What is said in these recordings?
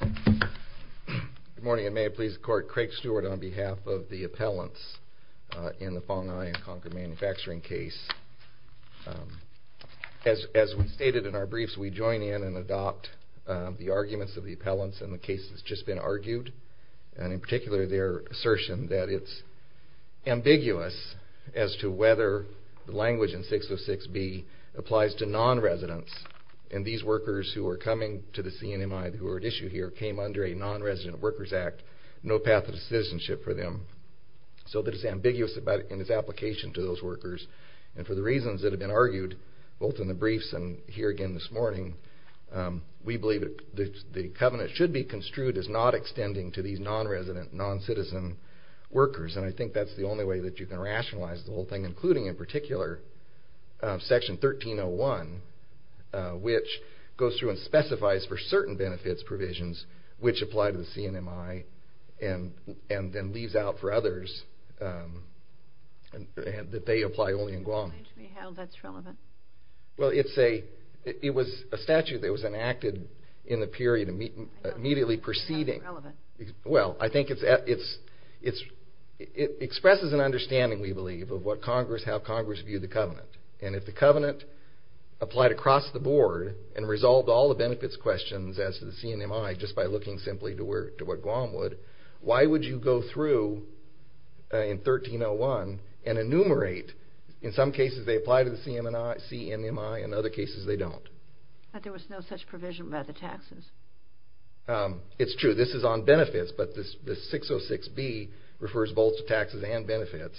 Good morning, and may it please the court, Craig Stewart on behalf of the appellants in the Fong Ai and Concord Manufacturing case. As we stated in our briefs, we join in and adopt the arguments of the appellants in the case that's just been argued, and in particular their assertion that it's ambiguous as to whether the language in 606B applies to non-residents and these workers who are coming to the CNMI, who are at issue here, came under a non-resident workers act, no path of citizenship for them, so that it's ambiguous in its application to those workers, and for the reasons that have been argued, both in the briefs and here again this morning, we believe that the covenant should be construed as not extending to these non-resident, non-citizen workers, and I think that's the only way that you can rationalize the whole thing, including in particular section 1301, which goes through and specifies for certain benefits provisions, which apply to the CNMI, and then leaves out for others that they apply only in Guam. How is that relevant? Well it's a, it was a statute that was enacted in the period immediately preceding, well I think it's, it expresses an understanding, we believe, of what Congress, how Congress viewed the covenant, and if the covenant applied across the board, and resolved all the benefits questions as to the CNMI, just by looking simply to what Guam would, why would you go through in 1301 and enumerate, in some cases they apply to the CNMI, in other cases they don't. But there was no such provision about the taxes. It's true, this is on benefits, but the 606B refers both to taxes and benefits,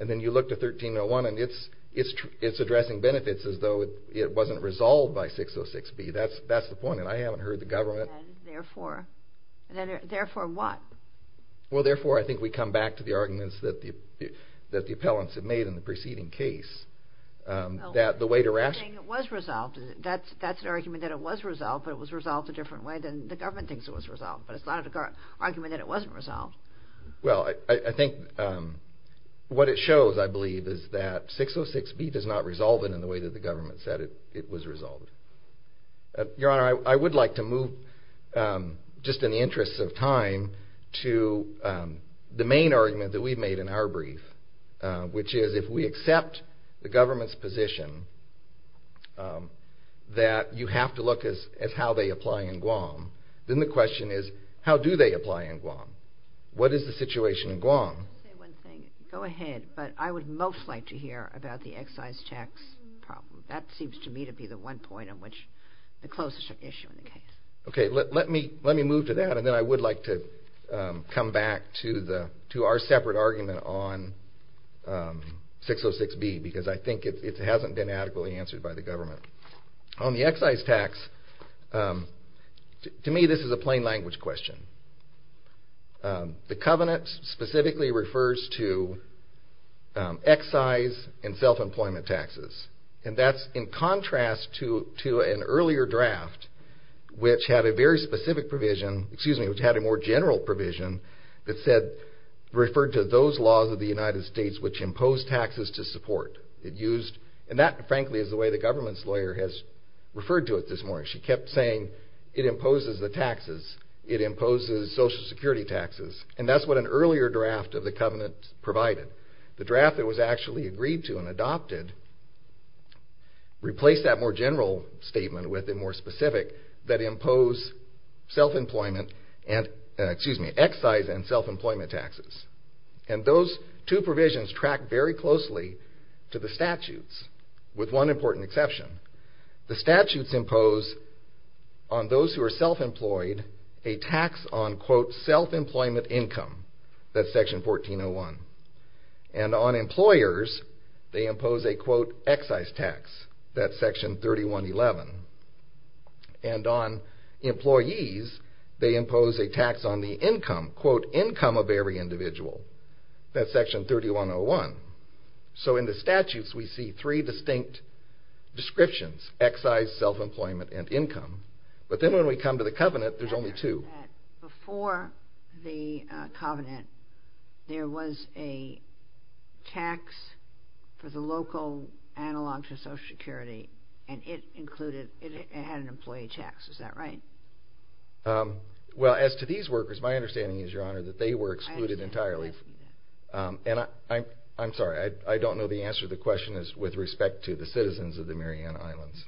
and then you look to 1301 and it's addressing benefits as though it wasn't resolved by 606B, that's the point, and I haven't heard the government... And therefore, therefore what? Well therefore I think we come back to the arguments that the appellants have made in the preceding case, that the way to rationalize... You're saying it was resolved, that's the argument that it was resolved, but it was resolved a different way than the government thinks it was resolved, but it's not an argument that it wasn't resolved. Well I think what it shows, I believe, is that 606B does not resolve it in the way that the government said it was resolved. Your Honor, I would like to move, just in the interest of time, to the main argument that we've made in our brief, which is if we accept the government's position that you have to look at how they apply in Guam, then the question is how do they apply in Guam? What is the situation in Guam? Let me say one thing, go ahead, but I would most like to hear about the excise tax problem. That seems to me to be the one point on which the closest issue in the case. Let me move to that, and then I would like to come back to our separate argument on 606B, because I think it hasn't been adequately answered by the government. On the excise tax, to me this is a plain language question. The covenant specifically refers to excise and self-employment taxes, and that's in contrast to an earlier draft, which had a very specific provision, excuse me, which had a more general provision that referred to those laws of the United States which imposed taxes to support. That frankly is the way the government's lawyer has referred to it this morning. She kept saying it imposes the taxes, it imposes social security taxes, and that's what an earlier draft of the covenant provided. The draft that was actually agreed to and adopted replaced that more general statement with a more specific that imposed self-employment, excuse me, excise and self-employment taxes, and those two provisions track very closely to the statutes, with one important exception. The statutes impose on those who are self-employed a tax on quote self-employment income, that's on employers they impose a quote excise tax, that's section 3111, and on employees they impose a tax on the income, quote income of every individual, that's section 3101. So in the statutes we see three distinct descriptions, excise, self-employment, and income, but then when we come to the covenant there's only two. Before the covenant there was a tax for the local analog to social security and it included, it had an employee tax, is that right? Well as to these workers, my understanding is your honor that they were excluded entirely, and I'm sorry, I don't know the answer to the question with respect to the citizens of the Marianna Islands.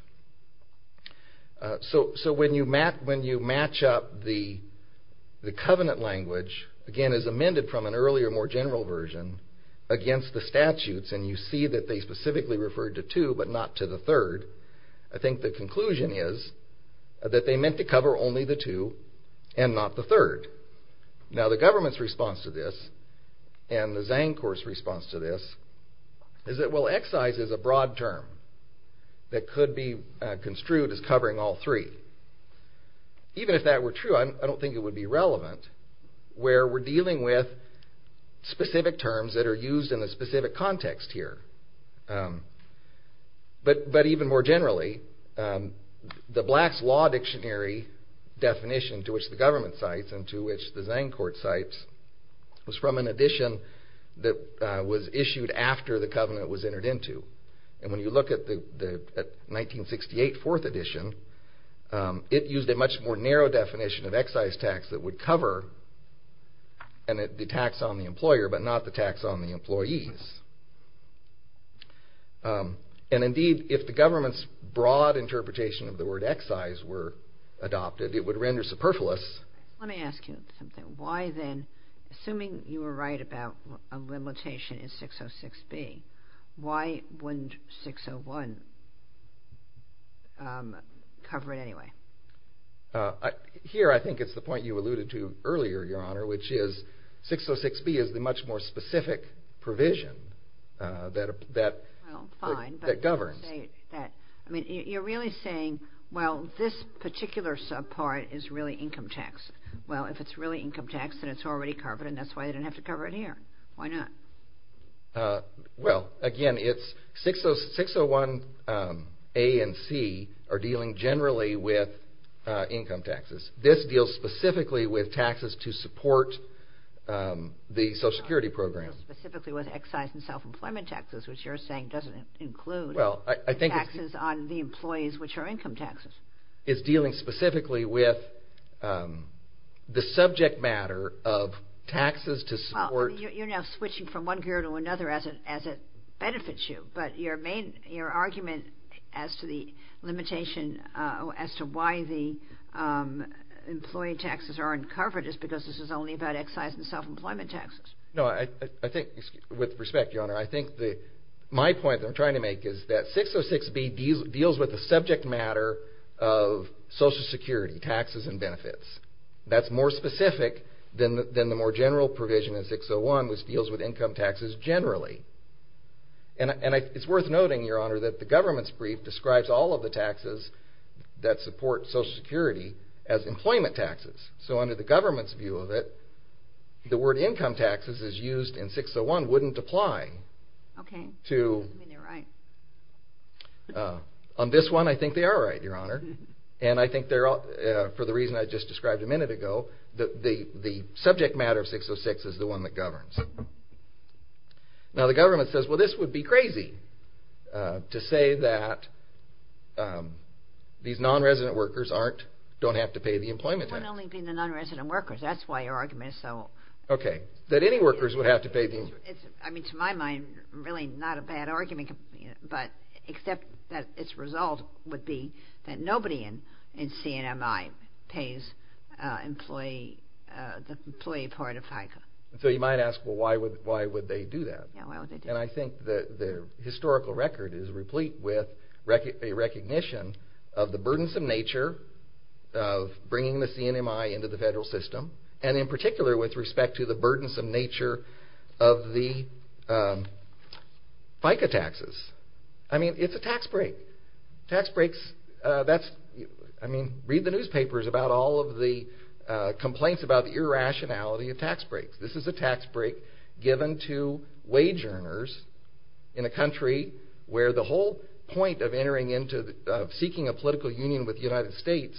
So when you match up the covenant language, again as amended from an earlier more general version, against the statutes and you see that they specifically referred to two but not to the third, I think the conclusion is that they meant to cover only the two and not the third. Now the government's response to this, and the Zancor's response to this, is that well what we construed is covering all three. Even if that were true I don't think it would be relevant, where we're dealing with specific terms that are used in a specific context here. But even more generally, the Black's Law Dictionary definition to which the government cites and to which the Zancor cites was from an edition that was issued after the covenant was entered into. And when you look at the 1968 fourth edition, it used a much more narrow definition of excise tax that would cover the tax on the employer but not the tax on the employees. And indeed, if the government's broad interpretation of the word excise were adopted, it would render superfluous. Let me ask you something, why then, assuming you were right about a limitation in 606B, why wouldn't 601 cover it anyway? Here I think it's the point you alluded to earlier, Your Honor, which is 606B is the much more specific provision that governs. Well, fine, but you're really saying, well this particular subpart is really income tax. Well if it's really income tax then it's already covered and that's why they didn't have to cover it here, why not? Well, again, 601A and 601C are dealing generally with income taxes. This deals specifically with taxes to support the Social Security program. Specifically with excise and self-employment taxes, which you're saying doesn't include taxes on the employees which are income taxes. It's dealing specifically with the subject matter of taxes to support... Well, you're now switching from one gear to another as it benefits you, but your argument as to the limitation, as to why the employee taxes aren't covered is because this is only about excise and self-employment taxes. No, I think, with respect, Your Honor, I think my point that I'm trying to make is that 606B deals with the subject matter of Social Security taxes and benefits. That's more specific than the more general provision in 601, which deals with income taxes generally. And it's worth noting, Your Honor, that the government's brief describes all of the taxes that support Social Security as employment taxes. So under the government's view of it, the word income taxes is used in 601 wouldn't apply. Okay. I mean, they're right. On this one, I think they are right, Your Honor. And I think for the reason I just described a minute ago, the subject matter of 606 is the one that governs. Now, the government says, well, this would be crazy to say that these non-resident workers don't have to pay the employment tax. It wouldn't only be the non-resident workers. That's why your argument is so... Okay. That any workers would have to pay the... I mean, to my mind, really not a bad argument, but except that its result would be that nobody in CNMI pays the employee part of FICA. So you might ask, well, why would they do that? Yeah, why would they do that? And I think the historical record is replete with a recognition of the burdensome nature of bringing the CNMI into the federal system, and in particular with respect to the burdensome nature of the FICA taxes. I mean, it's a tax break. Tax breaks, that's... I mean, read the newspapers about all of the complaints about the irrationality of tax breaks. This is a tax break given to wage earners in a country where the whole point of entering into... of seeking a political union with the United States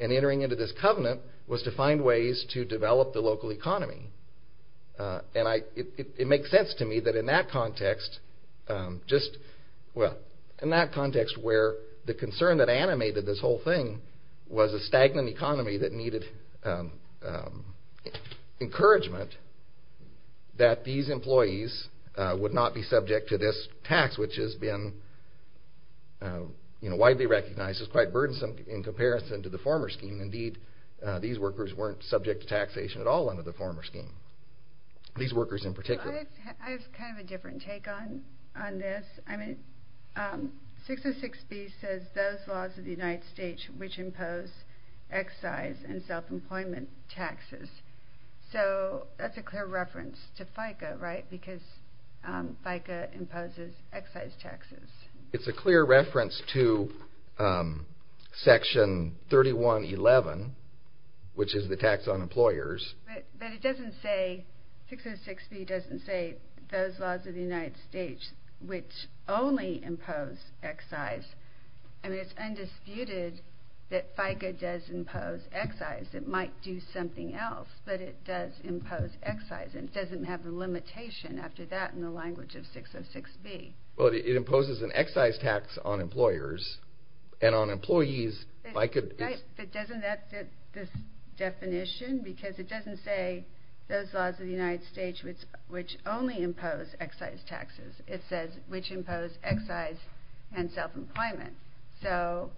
and entering into this covenant was to find ways to develop the local economy. And it makes sense to me that in that context, just... Well, in that context where the concern that animated this whole thing was a stagnant economy that needed encouragement that these employees would not be subject to this tax, which has been widely recognized as quite burdensome in comparison to the former scheme. And indeed, these workers weren't subject to taxation at all under the former scheme. These workers in particular. I have kind of a different take on this. I mean, 606B says those laws of the United States which impose excise and self-employment taxes. So that's a clear reference to FICA, right? Because FICA imposes excise taxes. It's a clear reference to Section 3111, which is the tax on employers. But it doesn't say... 606B doesn't say those laws of the United States which only impose excise. I mean, it's undisputed that FICA does impose excise. It might do something else, but it does impose excise. And it doesn't have the limitation after that in the language of 606B. Well, it imposes an excise tax on employers and on employees. But doesn't that fit this definition? Because it doesn't say those laws of the United States which only impose excise taxes. It says which impose excise and self-employment. So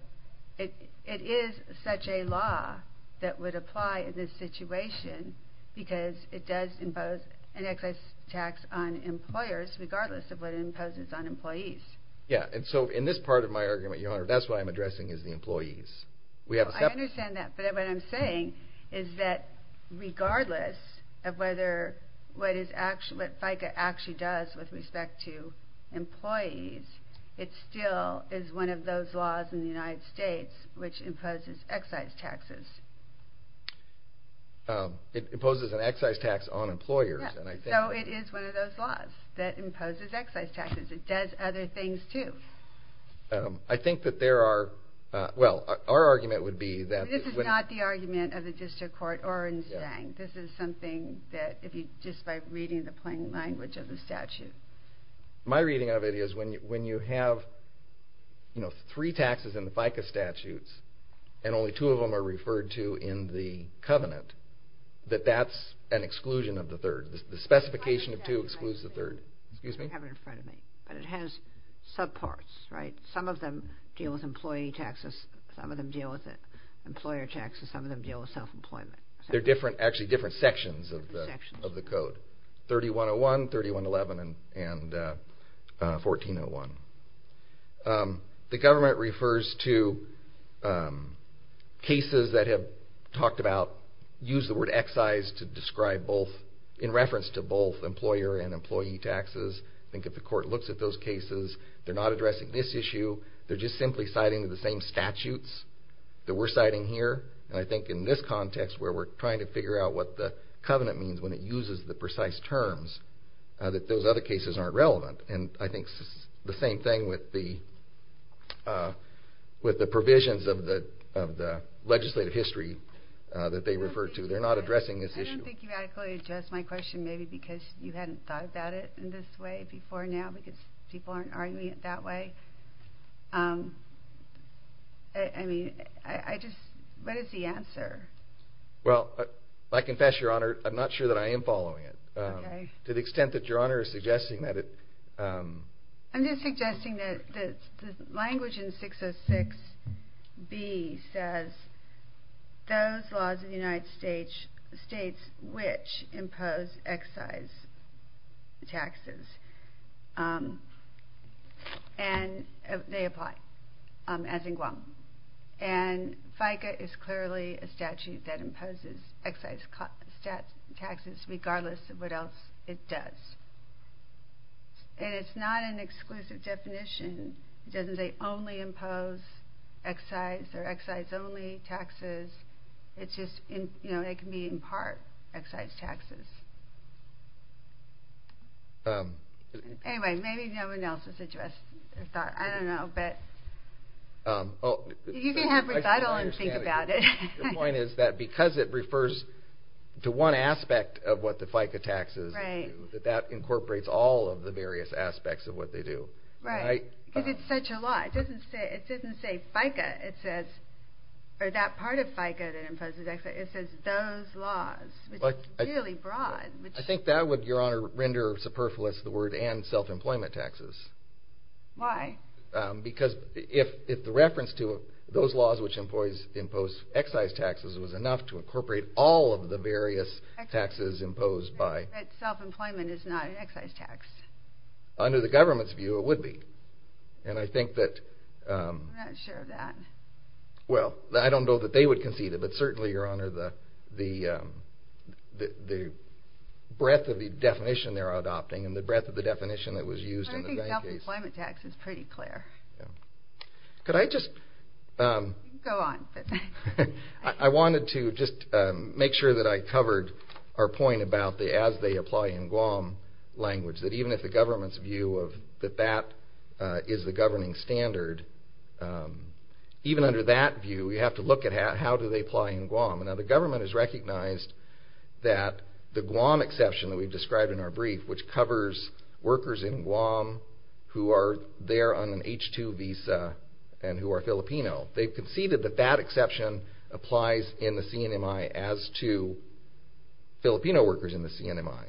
it is such a law that would apply in this situation because it does impose an excise tax on employers regardless of what it imposes on employees. Yeah, and so in this part of my argument, Your Honor, that's what I'm addressing is the employees. I understand that, but what I'm saying is that regardless of what FICA actually does with respect to employees, it still is one of those laws in the United States which imposes excise taxes. It imposes an excise tax on employers. Yeah, so it is one of those laws that imposes excise taxes. It does other things, too. I think that there are – well, our argument would be that – This is not the argument of the district court or in Stang. This is something that if you – just by reading the plain language of the statute. My reading of it is when you have, you know, three taxes in the FICA statutes and only two of them are referred to in the covenant, that that's an exclusion of the third. The specification of two excludes the third. You have it in front of me, but it has subparts, right? Some of them deal with employee taxes. Some of them deal with employer taxes. Some of them deal with self-employment. They're different – actually, different sections of the code, 3101, 3111, and 1401. The government refers to cases that have talked about – use the word excise to describe both – in reference to both employer and employee taxes. I think if the court looks at those cases, they're not addressing this issue. They're just simply citing the same statutes that we're citing here. And I think in this context where we're trying to figure out what the covenant means when it uses the precise terms, that those other cases aren't relevant. And I think the same thing with the provisions of the legislative history that they refer to. They're not addressing this issue. I don't think you adequately addressed my question, maybe because you hadn't thought about it in this way before now because people aren't arguing it that way. I mean, I just – what is the answer? Well, I confess, Your Honor, I'm not sure that I am following it. Okay. To the extent that Your Honor is suggesting that it – I'm just suggesting that the language in 606B says those laws in the United States which impose excise taxes, and they apply, as in Guam. And FICA is clearly a statute that imposes excise taxes regardless of what else it does. And it's not an exclusive definition. It doesn't say only impose excise or excise only taxes. It's just – it can be in part excise taxes. Anyway, maybe no one else has addressed the thought. I don't know. You can have recital and think about it. The point is that because it refers to one aspect of what the FICA taxes do, that that incorporates all of the various aspects of what they do. Right. Because it's such a law. It doesn't say FICA. It says – or that part of FICA that imposes excise. It says those laws, which is really broad. I think that would, Your Honor, render superfluous the word and self-employment taxes. Why? Because if the reference to those laws, which impose excise taxes, was enough to incorporate all of the various taxes imposed by – But self-employment is not an excise tax. Under the government's view, it would be. And I think that – I'm not sure of that. Well, I don't know that they would concede it, but certainly, Your Honor, the breadth of the definition they're adopting and the breadth of the definition that was used in the bank case – Could I just – Go on. I wanted to just make sure that I covered our point about the as-they-apply-in-Guam language, that even if the government's view that that is the governing standard, even under that view, we have to look at how do they apply in Guam. Now, the government has recognized that the Guam exception that we've described in our brief, which covers workers in Guam who are there on an H-2 visa and who are Filipino, they've conceded that that exception applies in the CNMI as to Filipino workers in the CNMI,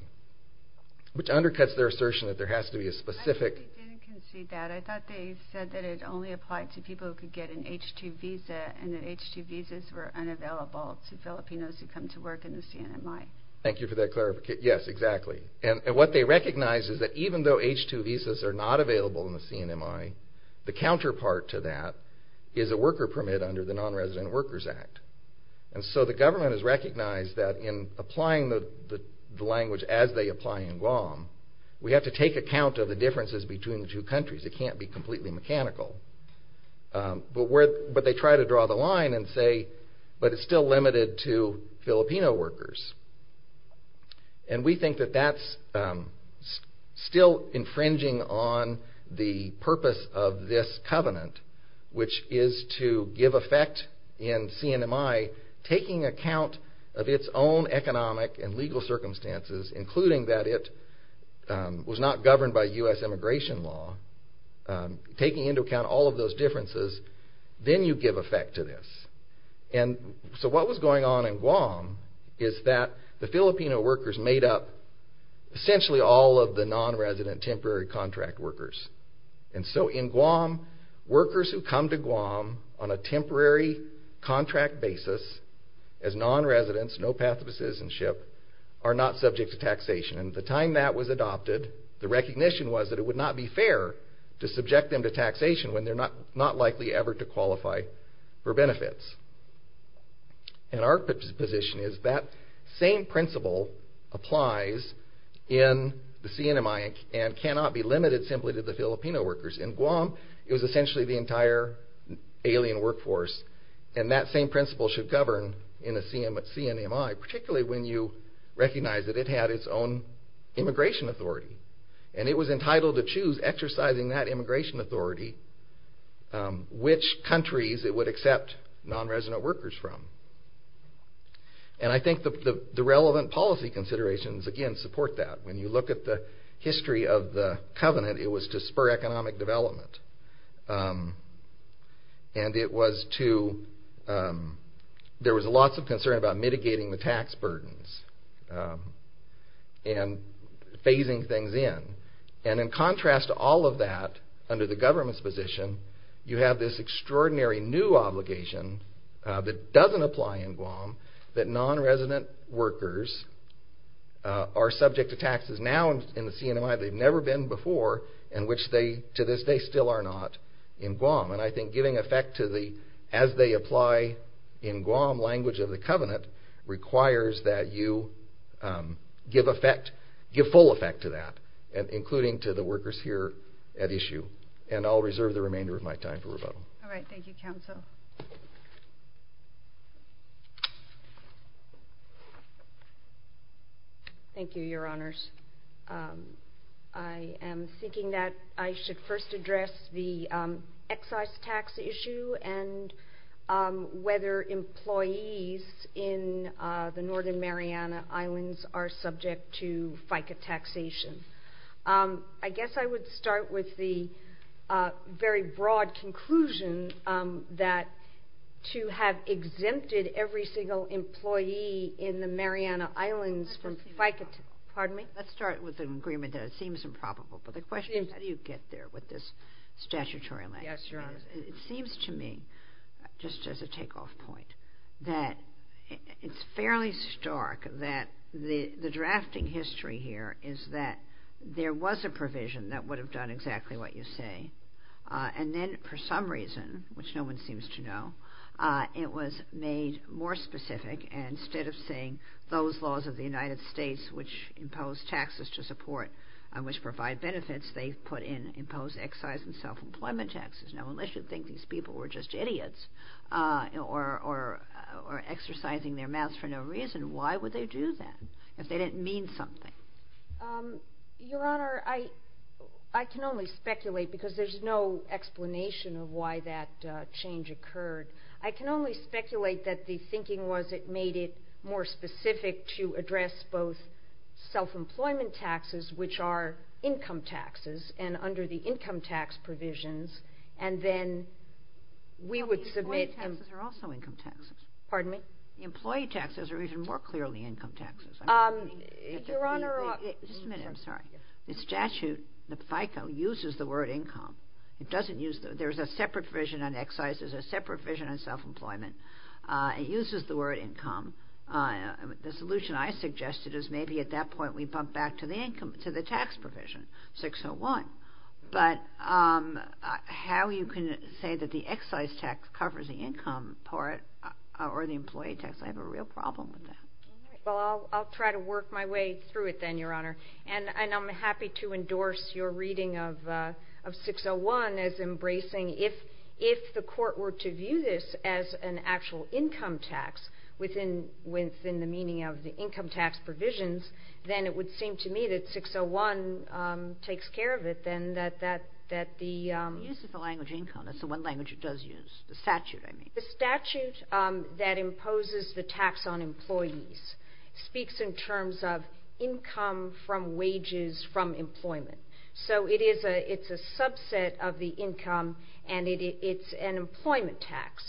which undercuts their assertion that there has to be a specific – I think they didn't concede that. I thought they said that it only applied to people who could get an H-2 visa and that H-2 visas were unavailable to Filipinos who come to work in the CNMI. Thank you for that clarification. Yes, exactly. And what they recognize is that even though H-2 visas are not available in the CNMI, the counterpart to that is a worker permit under the Non-Resident Workers Act. And so the government has recognized that in applying the language as they apply in Guam, we have to take account of the differences between the two countries. It can't be completely mechanical. But they try to draw the line and say, but it's still limited to Filipino workers. And we think that that's still infringing on the purpose of this covenant, which is to give effect in CNMI, taking account of its own economic and legal circumstances, including that it was not governed by U.S. immigration law, taking into account all of those differences, then you give effect to this. And so what was going on in Guam is that the Filipino workers made up essentially all of the non-resident temporary contract workers. And so in Guam, workers who come to Guam on a temporary contract basis as non-residents, no path of citizenship, are not subject to taxation. And at the time that was adopted, the recognition was that it would not be fair to subject them to taxation when they're not likely ever to qualify for benefits. And our position is that same principle applies in the CNMI and cannot be limited simply to the Filipino workers. In Guam, it was essentially the entire alien workforce. And that same principle should govern in a CNMI, particularly when you recognize that it had its own immigration authority. And it was entitled to choose, exercising that immigration authority, which countries it would accept non-resident workers from. And I think the relevant policy considerations, again, support that. When you look at the history of the covenant, it was to spur economic development. And it was to... There was lots of concern about mitigating the tax burdens and phasing things in. And in contrast to all of that, under the government's position, you have this extraordinary new obligation that doesn't apply in Guam, that non-resident workers are subject to taxes now in the CNMI they've never been before, and which they, to this day, still are not in Guam. And I think giving effect to the, as they apply in Guam, language of the covenant, requires that you give effect, give full effect to that, including to the workers here at issue. And I'll reserve the remainder of my time for rebuttal. All right. Thank you, Counsel. Thank you, Your Honors. I am thinking that I should first address the excise tax issue and whether employees in the Northern Mariana Islands are subject to FICA taxation. I guess I would start with the very broad conclusion that to have exempted every single employee in the Mariana Islands from FICA... Pardon me? Let's start with an agreement that seems improbable. But the question is, how do you get there with this statutory laxity? Yes, Your Honors. It seems to me, just as a takeoff point, that it's fairly stark that the drafting history here is that there was a provision that would have done exactly what you say. And then, for some reason, which no one seems to know, it was made more specific. And instead of saying those laws of the United States which impose taxes to support and which provide benefits, they put in imposed excise and self-employment taxes. Now, unless you think these people were just idiots or exercising their mouths for no reason, why would they do that if they didn't mean something? Your Honor, I can only speculate because there's no explanation of why that change occurred. I can only speculate that the thinking was it made it more specific to address both self-employment taxes, which are income taxes, and under the income tax provisions, and then we would submit... Employee taxes are also income taxes. Pardon me? Employee taxes are even more clearly income taxes. Your Honor... Just a minute, I'm sorry. The statute, the FICO, uses the word income. There's a separate provision on excise. There's a separate provision on self-employment. It uses the word income. The solution I suggested is maybe at that point we bump back to the income, to the tax provision, 601. But how you can say that the excise tax covers the income part or the employee tax, I have a real problem with that. Well, I'll try to work my way through it then, Your Honor. And I'm happy to endorse your reading of 601 as embracing if the court were to view this as an actual income tax within the meaning of the income tax provisions, then it would seem to me that 601 takes care of it, then, that the... It uses the language income. That's the one language it does use, the statute, I mean. The statute that imposes the tax on employees speaks in terms of income from wages from employment. So it's a subset of the income and it's an employment tax.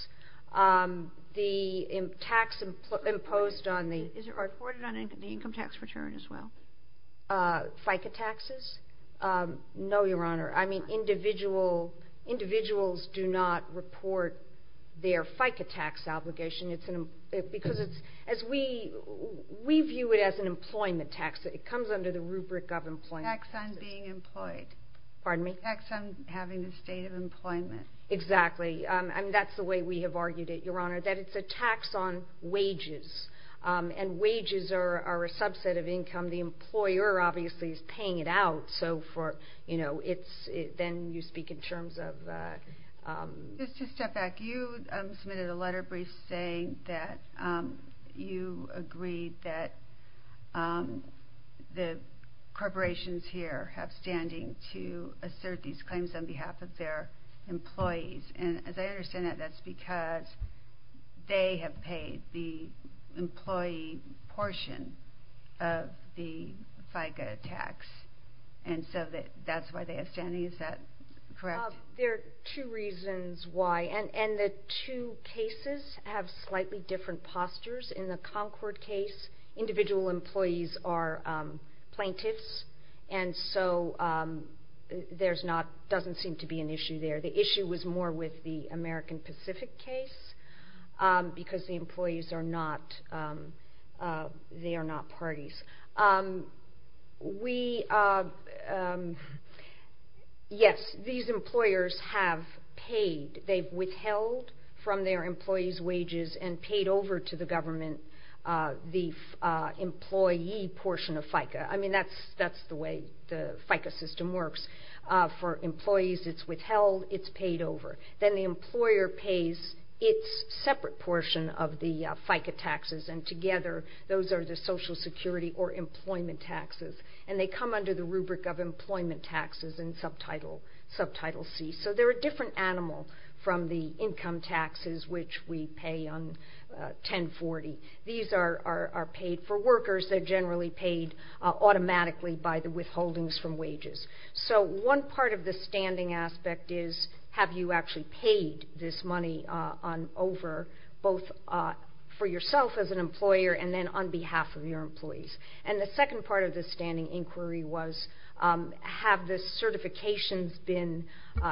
The tax imposed on the... Is it reported on the income tax return as well? FICA taxes? No, Your Honor. Individuals do not report their FICA tax obligation because we view it as an employment tax. It comes under the rubric of employment. Tax on being employed. Pardon me? Tax on having a state of employment. Exactly. And that's the way we have argued it, Your Honor, that it's a tax on wages. And wages are a subset of income. The employer obviously is paying it out, so for, you know, then you speak in terms of... Just to step back, you submitted a letter brief saying that you agreed that the corporations here have standing to assert these claims on behalf of their employees. And as I understand it, that's because they have paid the employee portion of the FICA tax. And so that's why they have standing. Is that correct? There are two reasons why. And the two cases have slightly different postures. In the Concord case, individual employees are plaintiffs, and so there's not... doesn't seem to be an issue there. The issue was more with the American Pacific case, because the employees are not... they are not parties. We... Yes, these employers have paid. They've withheld from their employees' wages and paid over to the government the employee portion of FICA. I mean, that's the way the FICA system works. For employees, it's withheld, it's paid over. Then the employer pays its separate portion of the FICA taxes, and together those are the social security or employment taxes. And they come under the rubric of employment taxes in subtitle C. So they're a different animal from the income taxes, which we pay on 1040. These are paid for workers. They're generally paid automatically by the withholdings from wages. So one part of the standing aspect is, have you actually paid this money over, both for yourself as an employer and then on behalf of your employees? And the second part of the standing inquiry was, have the certifications been...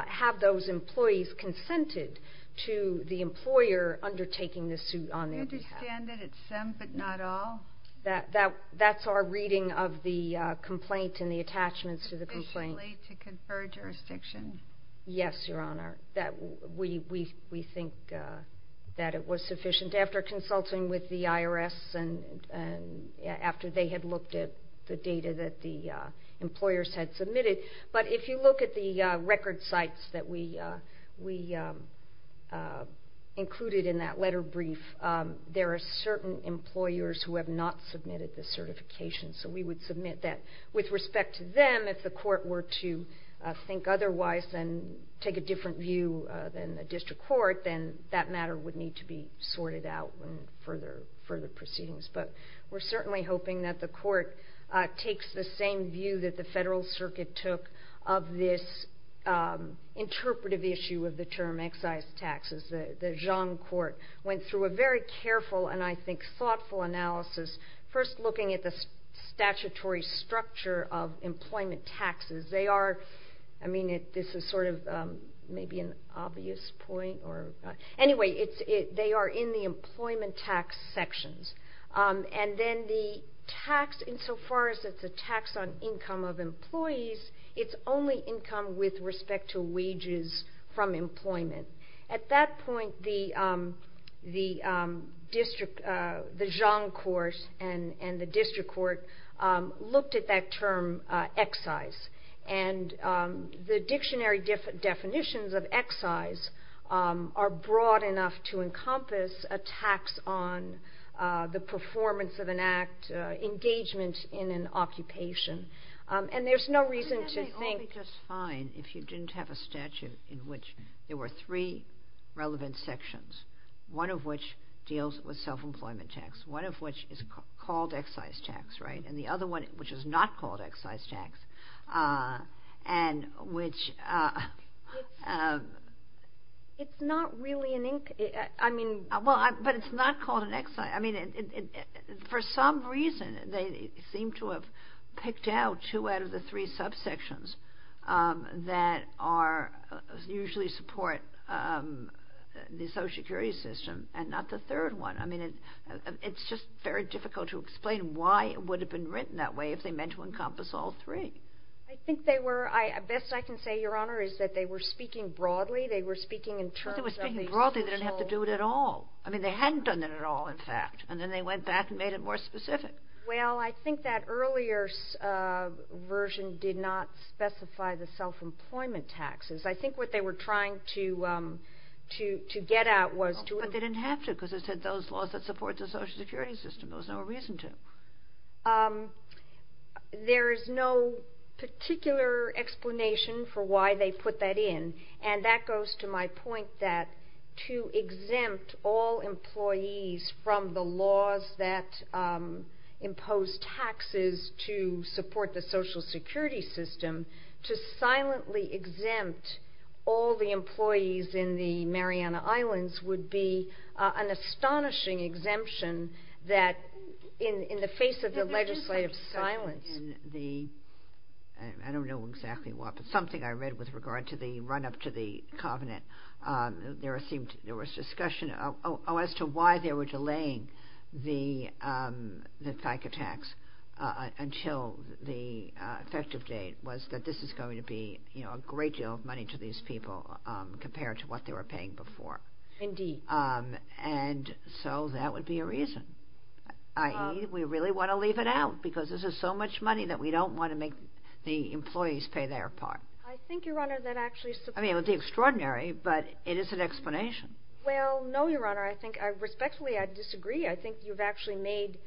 have those employees consented to the employer undertaking the suit on their behalf? I understand that it's some but not all. That's our reading of the complaint and the attachments to the complaint. Officially to confer jurisdiction? Yes, Your Honor. We think that it was sufficient after consulting with the IRS and after they had looked at the data that the employers had submitted. But if you look at the record sites that we included in that letter brief, there are certain employers who have not submitted the certification. So we would submit that. With respect to them, if the court were to think otherwise and take a different view than the district court, then that matter would need to be sorted out in further proceedings. But we're certainly hoping that the court takes the same view that the federal circuit took of this interpretive issue of the term excise taxes. The Zhang court went through a very careful and I think thoughtful analysis, first looking at the statutory structure of employment taxes. They are... I mean, this is sort of maybe an obvious point or... Anyway, they are in the employment tax sections. And then the tax, insofar as it's a tax on income of employees, it's only income with respect to wages from employment. At that point, the Zhang court and the district court looked at that term excise. And the dictionary definitions of excise are broad enough to encompass a tax on the performance of an act, engagement in an occupation. And there's no reason to think... There are three relevant sections, one of which deals with self-employment tax, one of which is called excise tax, right? And the other one, which is not called excise tax, and which... It's not really an... I mean... Well, but it's not called an excise... I mean, for some reason, they seem to have picked out two out of the three subsections that usually support the social security system and not the third one. I mean, it's just very difficult to explain why it would have been written that way if they meant to encompass all three. I think they were... Best I can say, Your Honor, is that they were speaking broadly. They were speaking in terms of the official... Well, they were speaking broadly. They didn't have to do it at all. I mean, they hadn't done it at all, in fact. And then they went back and made it more specific. Well, I think that earlier version did not specify the self-employment taxes. I think what they were trying to get at was to... But they didn't have to because it said those laws that support the social security system. There was no reason to. There is no particular explanation for why they put that in, and that goes to my point that to exempt all employees from the laws that impose taxes to support the social security system, to silently exempt all the employees in the Mariana Islands would be an astonishing exemption in the face of the legislative silence. I don't know exactly what, but something I read with regard to the run-up to the covenant, there was discussion as to why they were delaying the FICA tax until the effective date was that this is going to be a great deal of money to these people compared to what they were paying before. Indeed. And so that would be a reason. I.e., we really want to leave it out because this is so much money that we don't want to make the employees pay their part. I think, Your Honor, that actually supports... I mean, it would be extraordinary, but it is an explanation. Well, no, Your Honor. I think, respectfully, I disagree. I think you've actually made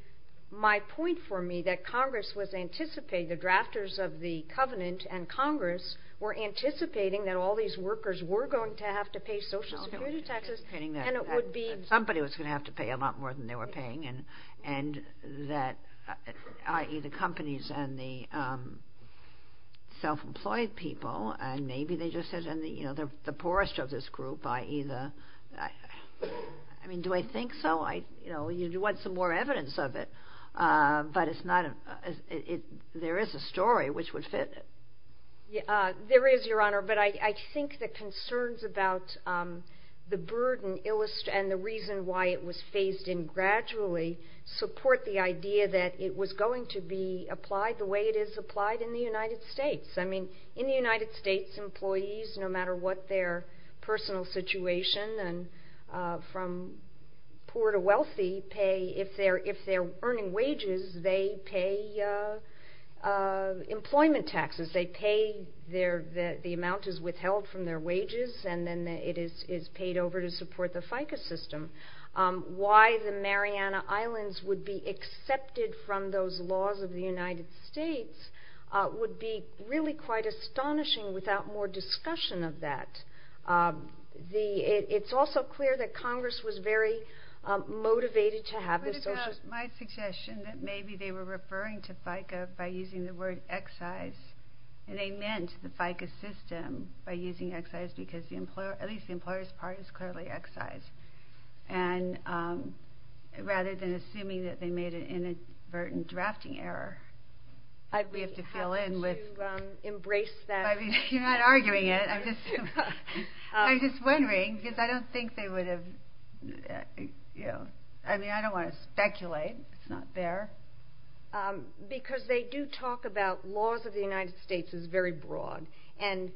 my point for me that Congress was anticipating, the drafters of the covenant and Congress were anticipating that all these workers were going to have to pay social security taxes, and it would be... Somebody was going to have to pay a lot more than they were paying, and that... I.e., the companies and the self-employed people, and maybe they just said they're the poorest of this group, i.e., the... I mean, do I think so? You want some more evidence of it, but it's not... There is a story which would fit. There is, Your Honor, but I think the concerns about the burden and the reason why it was phased in gradually support the idea that it was going to be applied the way it is applied in the United States. I mean, in the United States, employees, no matter what their personal situation, from poor to wealthy, pay... If they're earning wages, they pay employment taxes. They pay their... The amount is withheld from their wages, and then it is paid over to support the FICA system. Why the Mariana Islands would be accepted from those laws of the United States would be really quite astonishing without more discussion of that. It's also clear that Congress was very motivated to have this... What about my suggestion that maybe they were referring to FICA by using the word excise, and they meant the FICA system by using excise because the employer... At least the employer's part is clearly excise. And rather than assuming that they made an inadvertent drafting error, we have to fill in with... I'd be happy to embrace that. You're not arguing it. I'm just wondering because I don't think they would have... I mean, I don't want to speculate. It's not there. Because they do talk about laws of the United States is very broad, and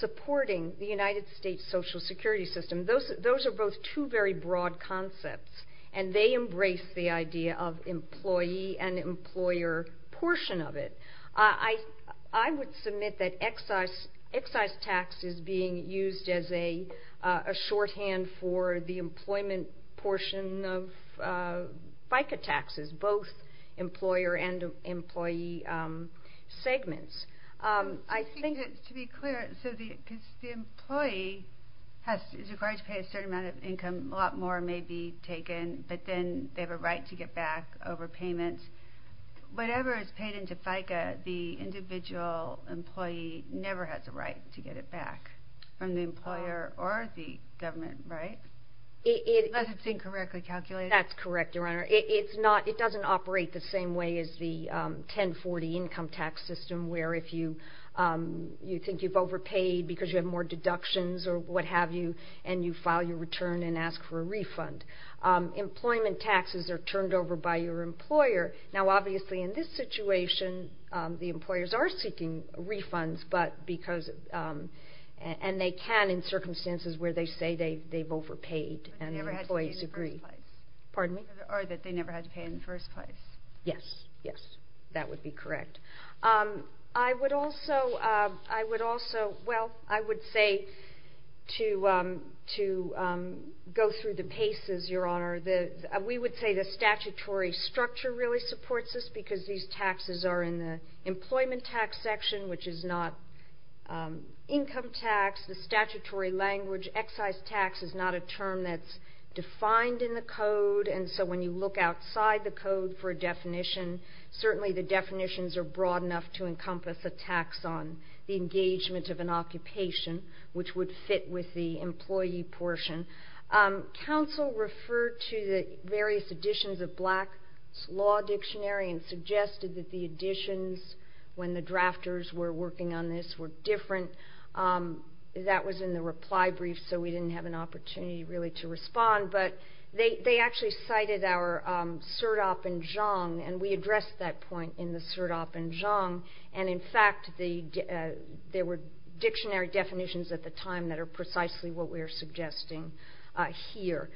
supporting the United States Social Security system, those are both two very broad concepts, and they embrace the idea of employee and employer portion of it. I would submit that excise tax is being used as a shorthand for the employment portion of FICA taxes, both employer and employee segments. To be clear, because the employee is required to pay a certain amount of income, a lot more may be taken, but then they have a right to get back over payments. Whatever is paid into FICA, the individual employee never has a right to get it back from the employer or the government, right? Unless it's incorrectly calculated. That's correct, Your Honor. It doesn't operate the same way as the 1040 income tax system, where if you think you've overpaid because you have more deductions or what have you, and you file your return and ask for a refund. Employment taxes are turned over by your employer. Now, obviously, in this situation, the employers are seeking refunds, and they can in circumstances where they say they've overpaid and employees agree. Pardon me? Or that they never had to pay in the first place. Yes, yes, that would be correct. I would also say, to go through the paces, Your Honor, we would say the statutory structure really supports this because these taxes are in the employment tax section, which is not income tax. The statutory language, excise tax, is not a term that's defined in the code, and so when you look outside the code for a definition, certainly the definitions are broad enough to encompass a tax on the engagement of an occupation, which would fit with the employee portion. Counsel referred to the various editions of Black's Law Dictionary and suggested that the editions, when the drafters were working on this, were different. That was in the reply brief, so we didn't have an opportunity really to respond, but they actually cited our surdap and zhong, and we addressed that point in the surdap and zhong, and, in fact, there were dictionary definitions at the time that are precisely what we are suggesting here.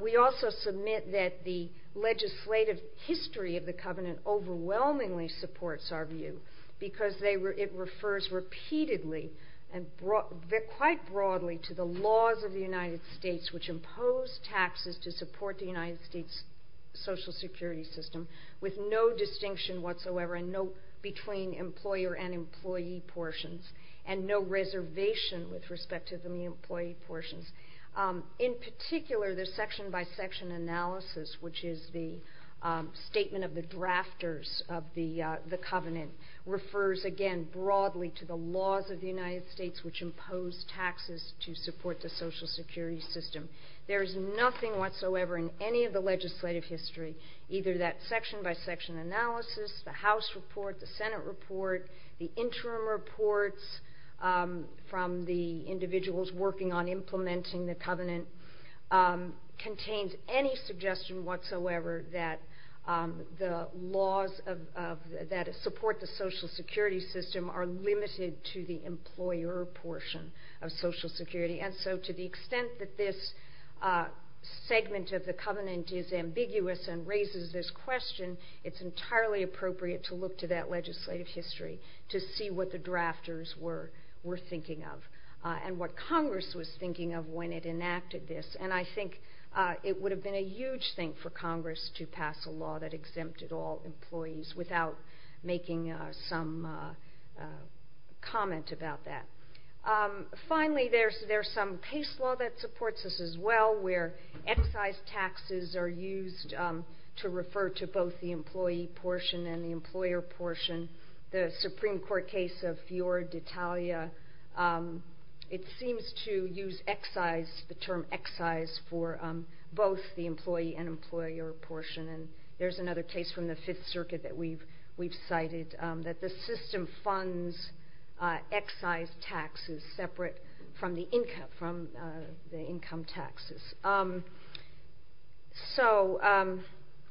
We also submit that the legislative history of the covenant overwhelmingly supports our view because it refers repeatedly and quite broadly to the laws of the United States which impose taxes to support the United States social security system with no distinction whatsoever between employer and employee portions and no reservation with respect to the employee portions. In particular, the section by section analysis, which is the statement of the drafters of the covenant, refers again broadly to the laws of the United States which impose taxes to support the social security system. There is nothing whatsoever in any of the legislative history, either that section by section analysis, the House report, the Senate report, the interim reports from the individuals working on implementing the covenant, contains any suggestion whatsoever that the laws that support the social security system are limited to the employer portion of social security, and so to the extent that this segment of the covenant is ambiguous and raises this question, it's entirely appropriate to look to that legislative history to see what the drafters were thinking of, and what Congress was thinking of when it enacted this, and I think it would have been a huge thing for Congress to pass a law that exempted all employees without making some comment about that. Finally, there's some case law that supports this as well where excise taxes are used to refer to both the employee portion and the employer portion. The Supreme Court case of Fiorditalia, it seems to use excise, the term excise for both the employee and employer portion, and there's another case from the Fifth Circuit that we've cited that the system funds excise taxes separate from the income taxes. So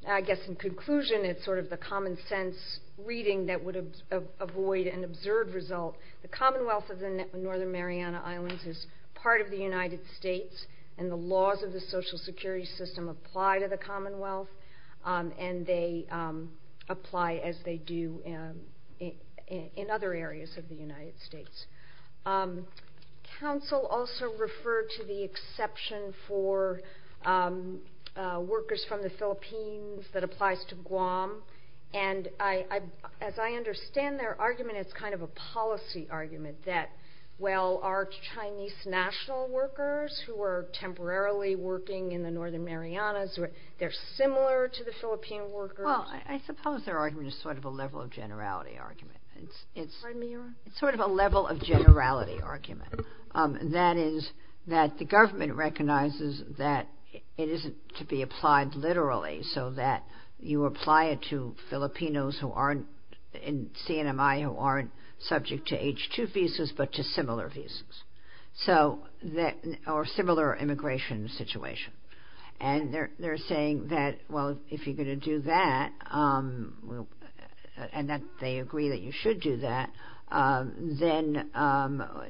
I guess in conclusion, it's sort of the common sense reading that would avoid an observed result. The Commonwealth of the Northern Mariana Islands is part of the United States, and the laws of the social security system apply to the Commonwealth, and they apply as they do in other areas of the United States. Council also referred to the exception for workers from the Philippines that applies to Guam, and as I understand their argument, it's kind of a policy argument that while our Chinese national workers who are temporarily working in the Northern Marianas, they're similar to the Philippine workers. Well, I suppose their argument is sort of a level of generality argument. Pardon me, Your Honor? It's sort of a level of generality argument. That is that the government recognizes that it isn't to be applied literally so that you apply it to Filipinos who aren't, in CNMI, who aren't subject to H-2 visas but to similar visas or similar immigration situation. And they're saying that, well, if you're going to do that, and that they agree that you should do that, then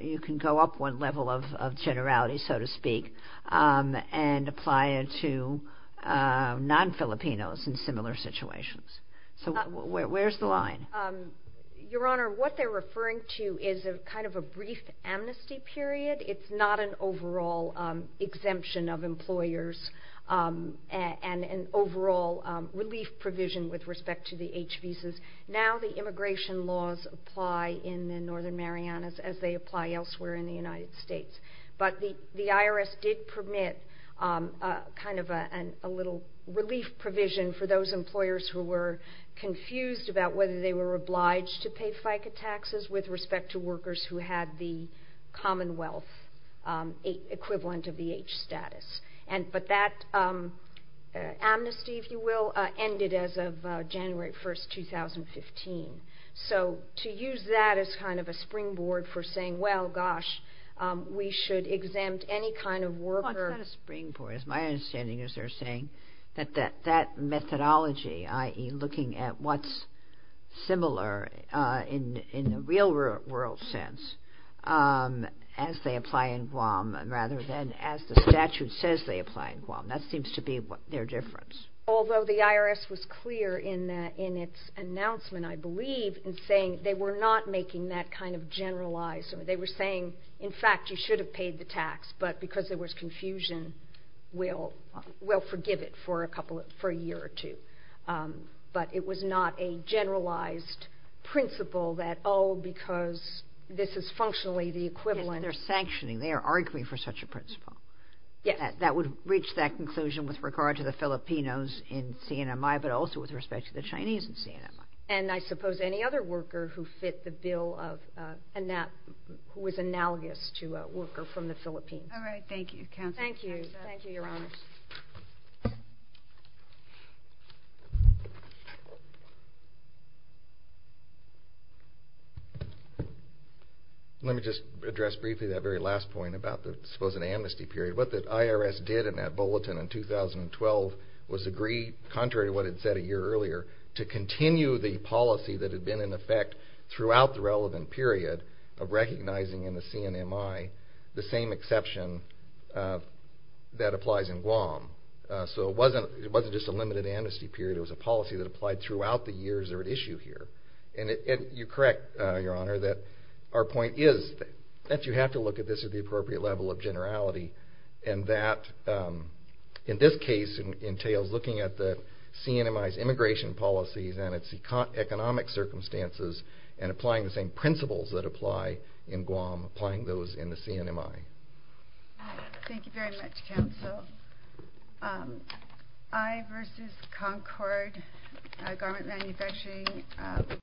you can go up one level of generality, so to speak, and apply it to non-Filipinos in similar situations. So where's the line? Your Honor, what they're referring to is kind of a brief amnesty period. It's not an overall exemption of employers and an overall relief provision with respect to the H visas. Now the immigration laws apply in the Northern Marianas as they apply elsewhere in the United States. But the IRS did permit kind of a little relief provision for those employers who were confused about whether they were obliged to pay FICA taxes with respect to workers who had the Commonwealth equivalent of the H status. But that amnesty, if you will, ended as of January 1, 2015. So to use that as kind of a springboard for saying, well, gosh, we should exempt any kind of worker. Well, it's not a springboard. My understanding is they're saying that that methodology, i.e. looking at what's similar in the real world sense as they apply in Guam rather than as the statute says they apply in Guam. That seems to be their difference. Although the IRS was clear in its announcement, I believe, in saying they were not making that kind of generalized. They were saying, in fact, you should have paid the tax, but because there was confusion, we'll forgive it for a year or two. But it was not a generalized principle that, oh, because this is functionally the equivalent. They're sanctioning. They are arguing for such a principle. Yes. That would reach that conclusion with regard to the Filipinos in CNMI, but also with respect to the Chinese in CNMI. And I suppose any other worker who was analogous to a worker from the Philippines. All right. Thank you, Counsel. Thank you. Thank you, Your Honors. Let me just address briefly that very last point about the supposed amnesty period. What the IRS did in that bulletin in 2012 was agree, contrary to what it said a year earlier, to continue the policy that had been in effect throughout the relevant period of recognizing in the CNMI the same exception that applies in Guam. So it wasn't just a limited amnesty period. It was a policy that applied throughout the years that were at issue here. And you're correct, Your Honor, that our point is that you have to look at this at the appropriate level of generality. And that, in this case, entails looking at the CNMI's immigration policies and its economic circumstances and applying the same principles that apply in Guam, applying those in the CNMI. Thank you very much, Counsel. I versus Concord Garment Manufacturing.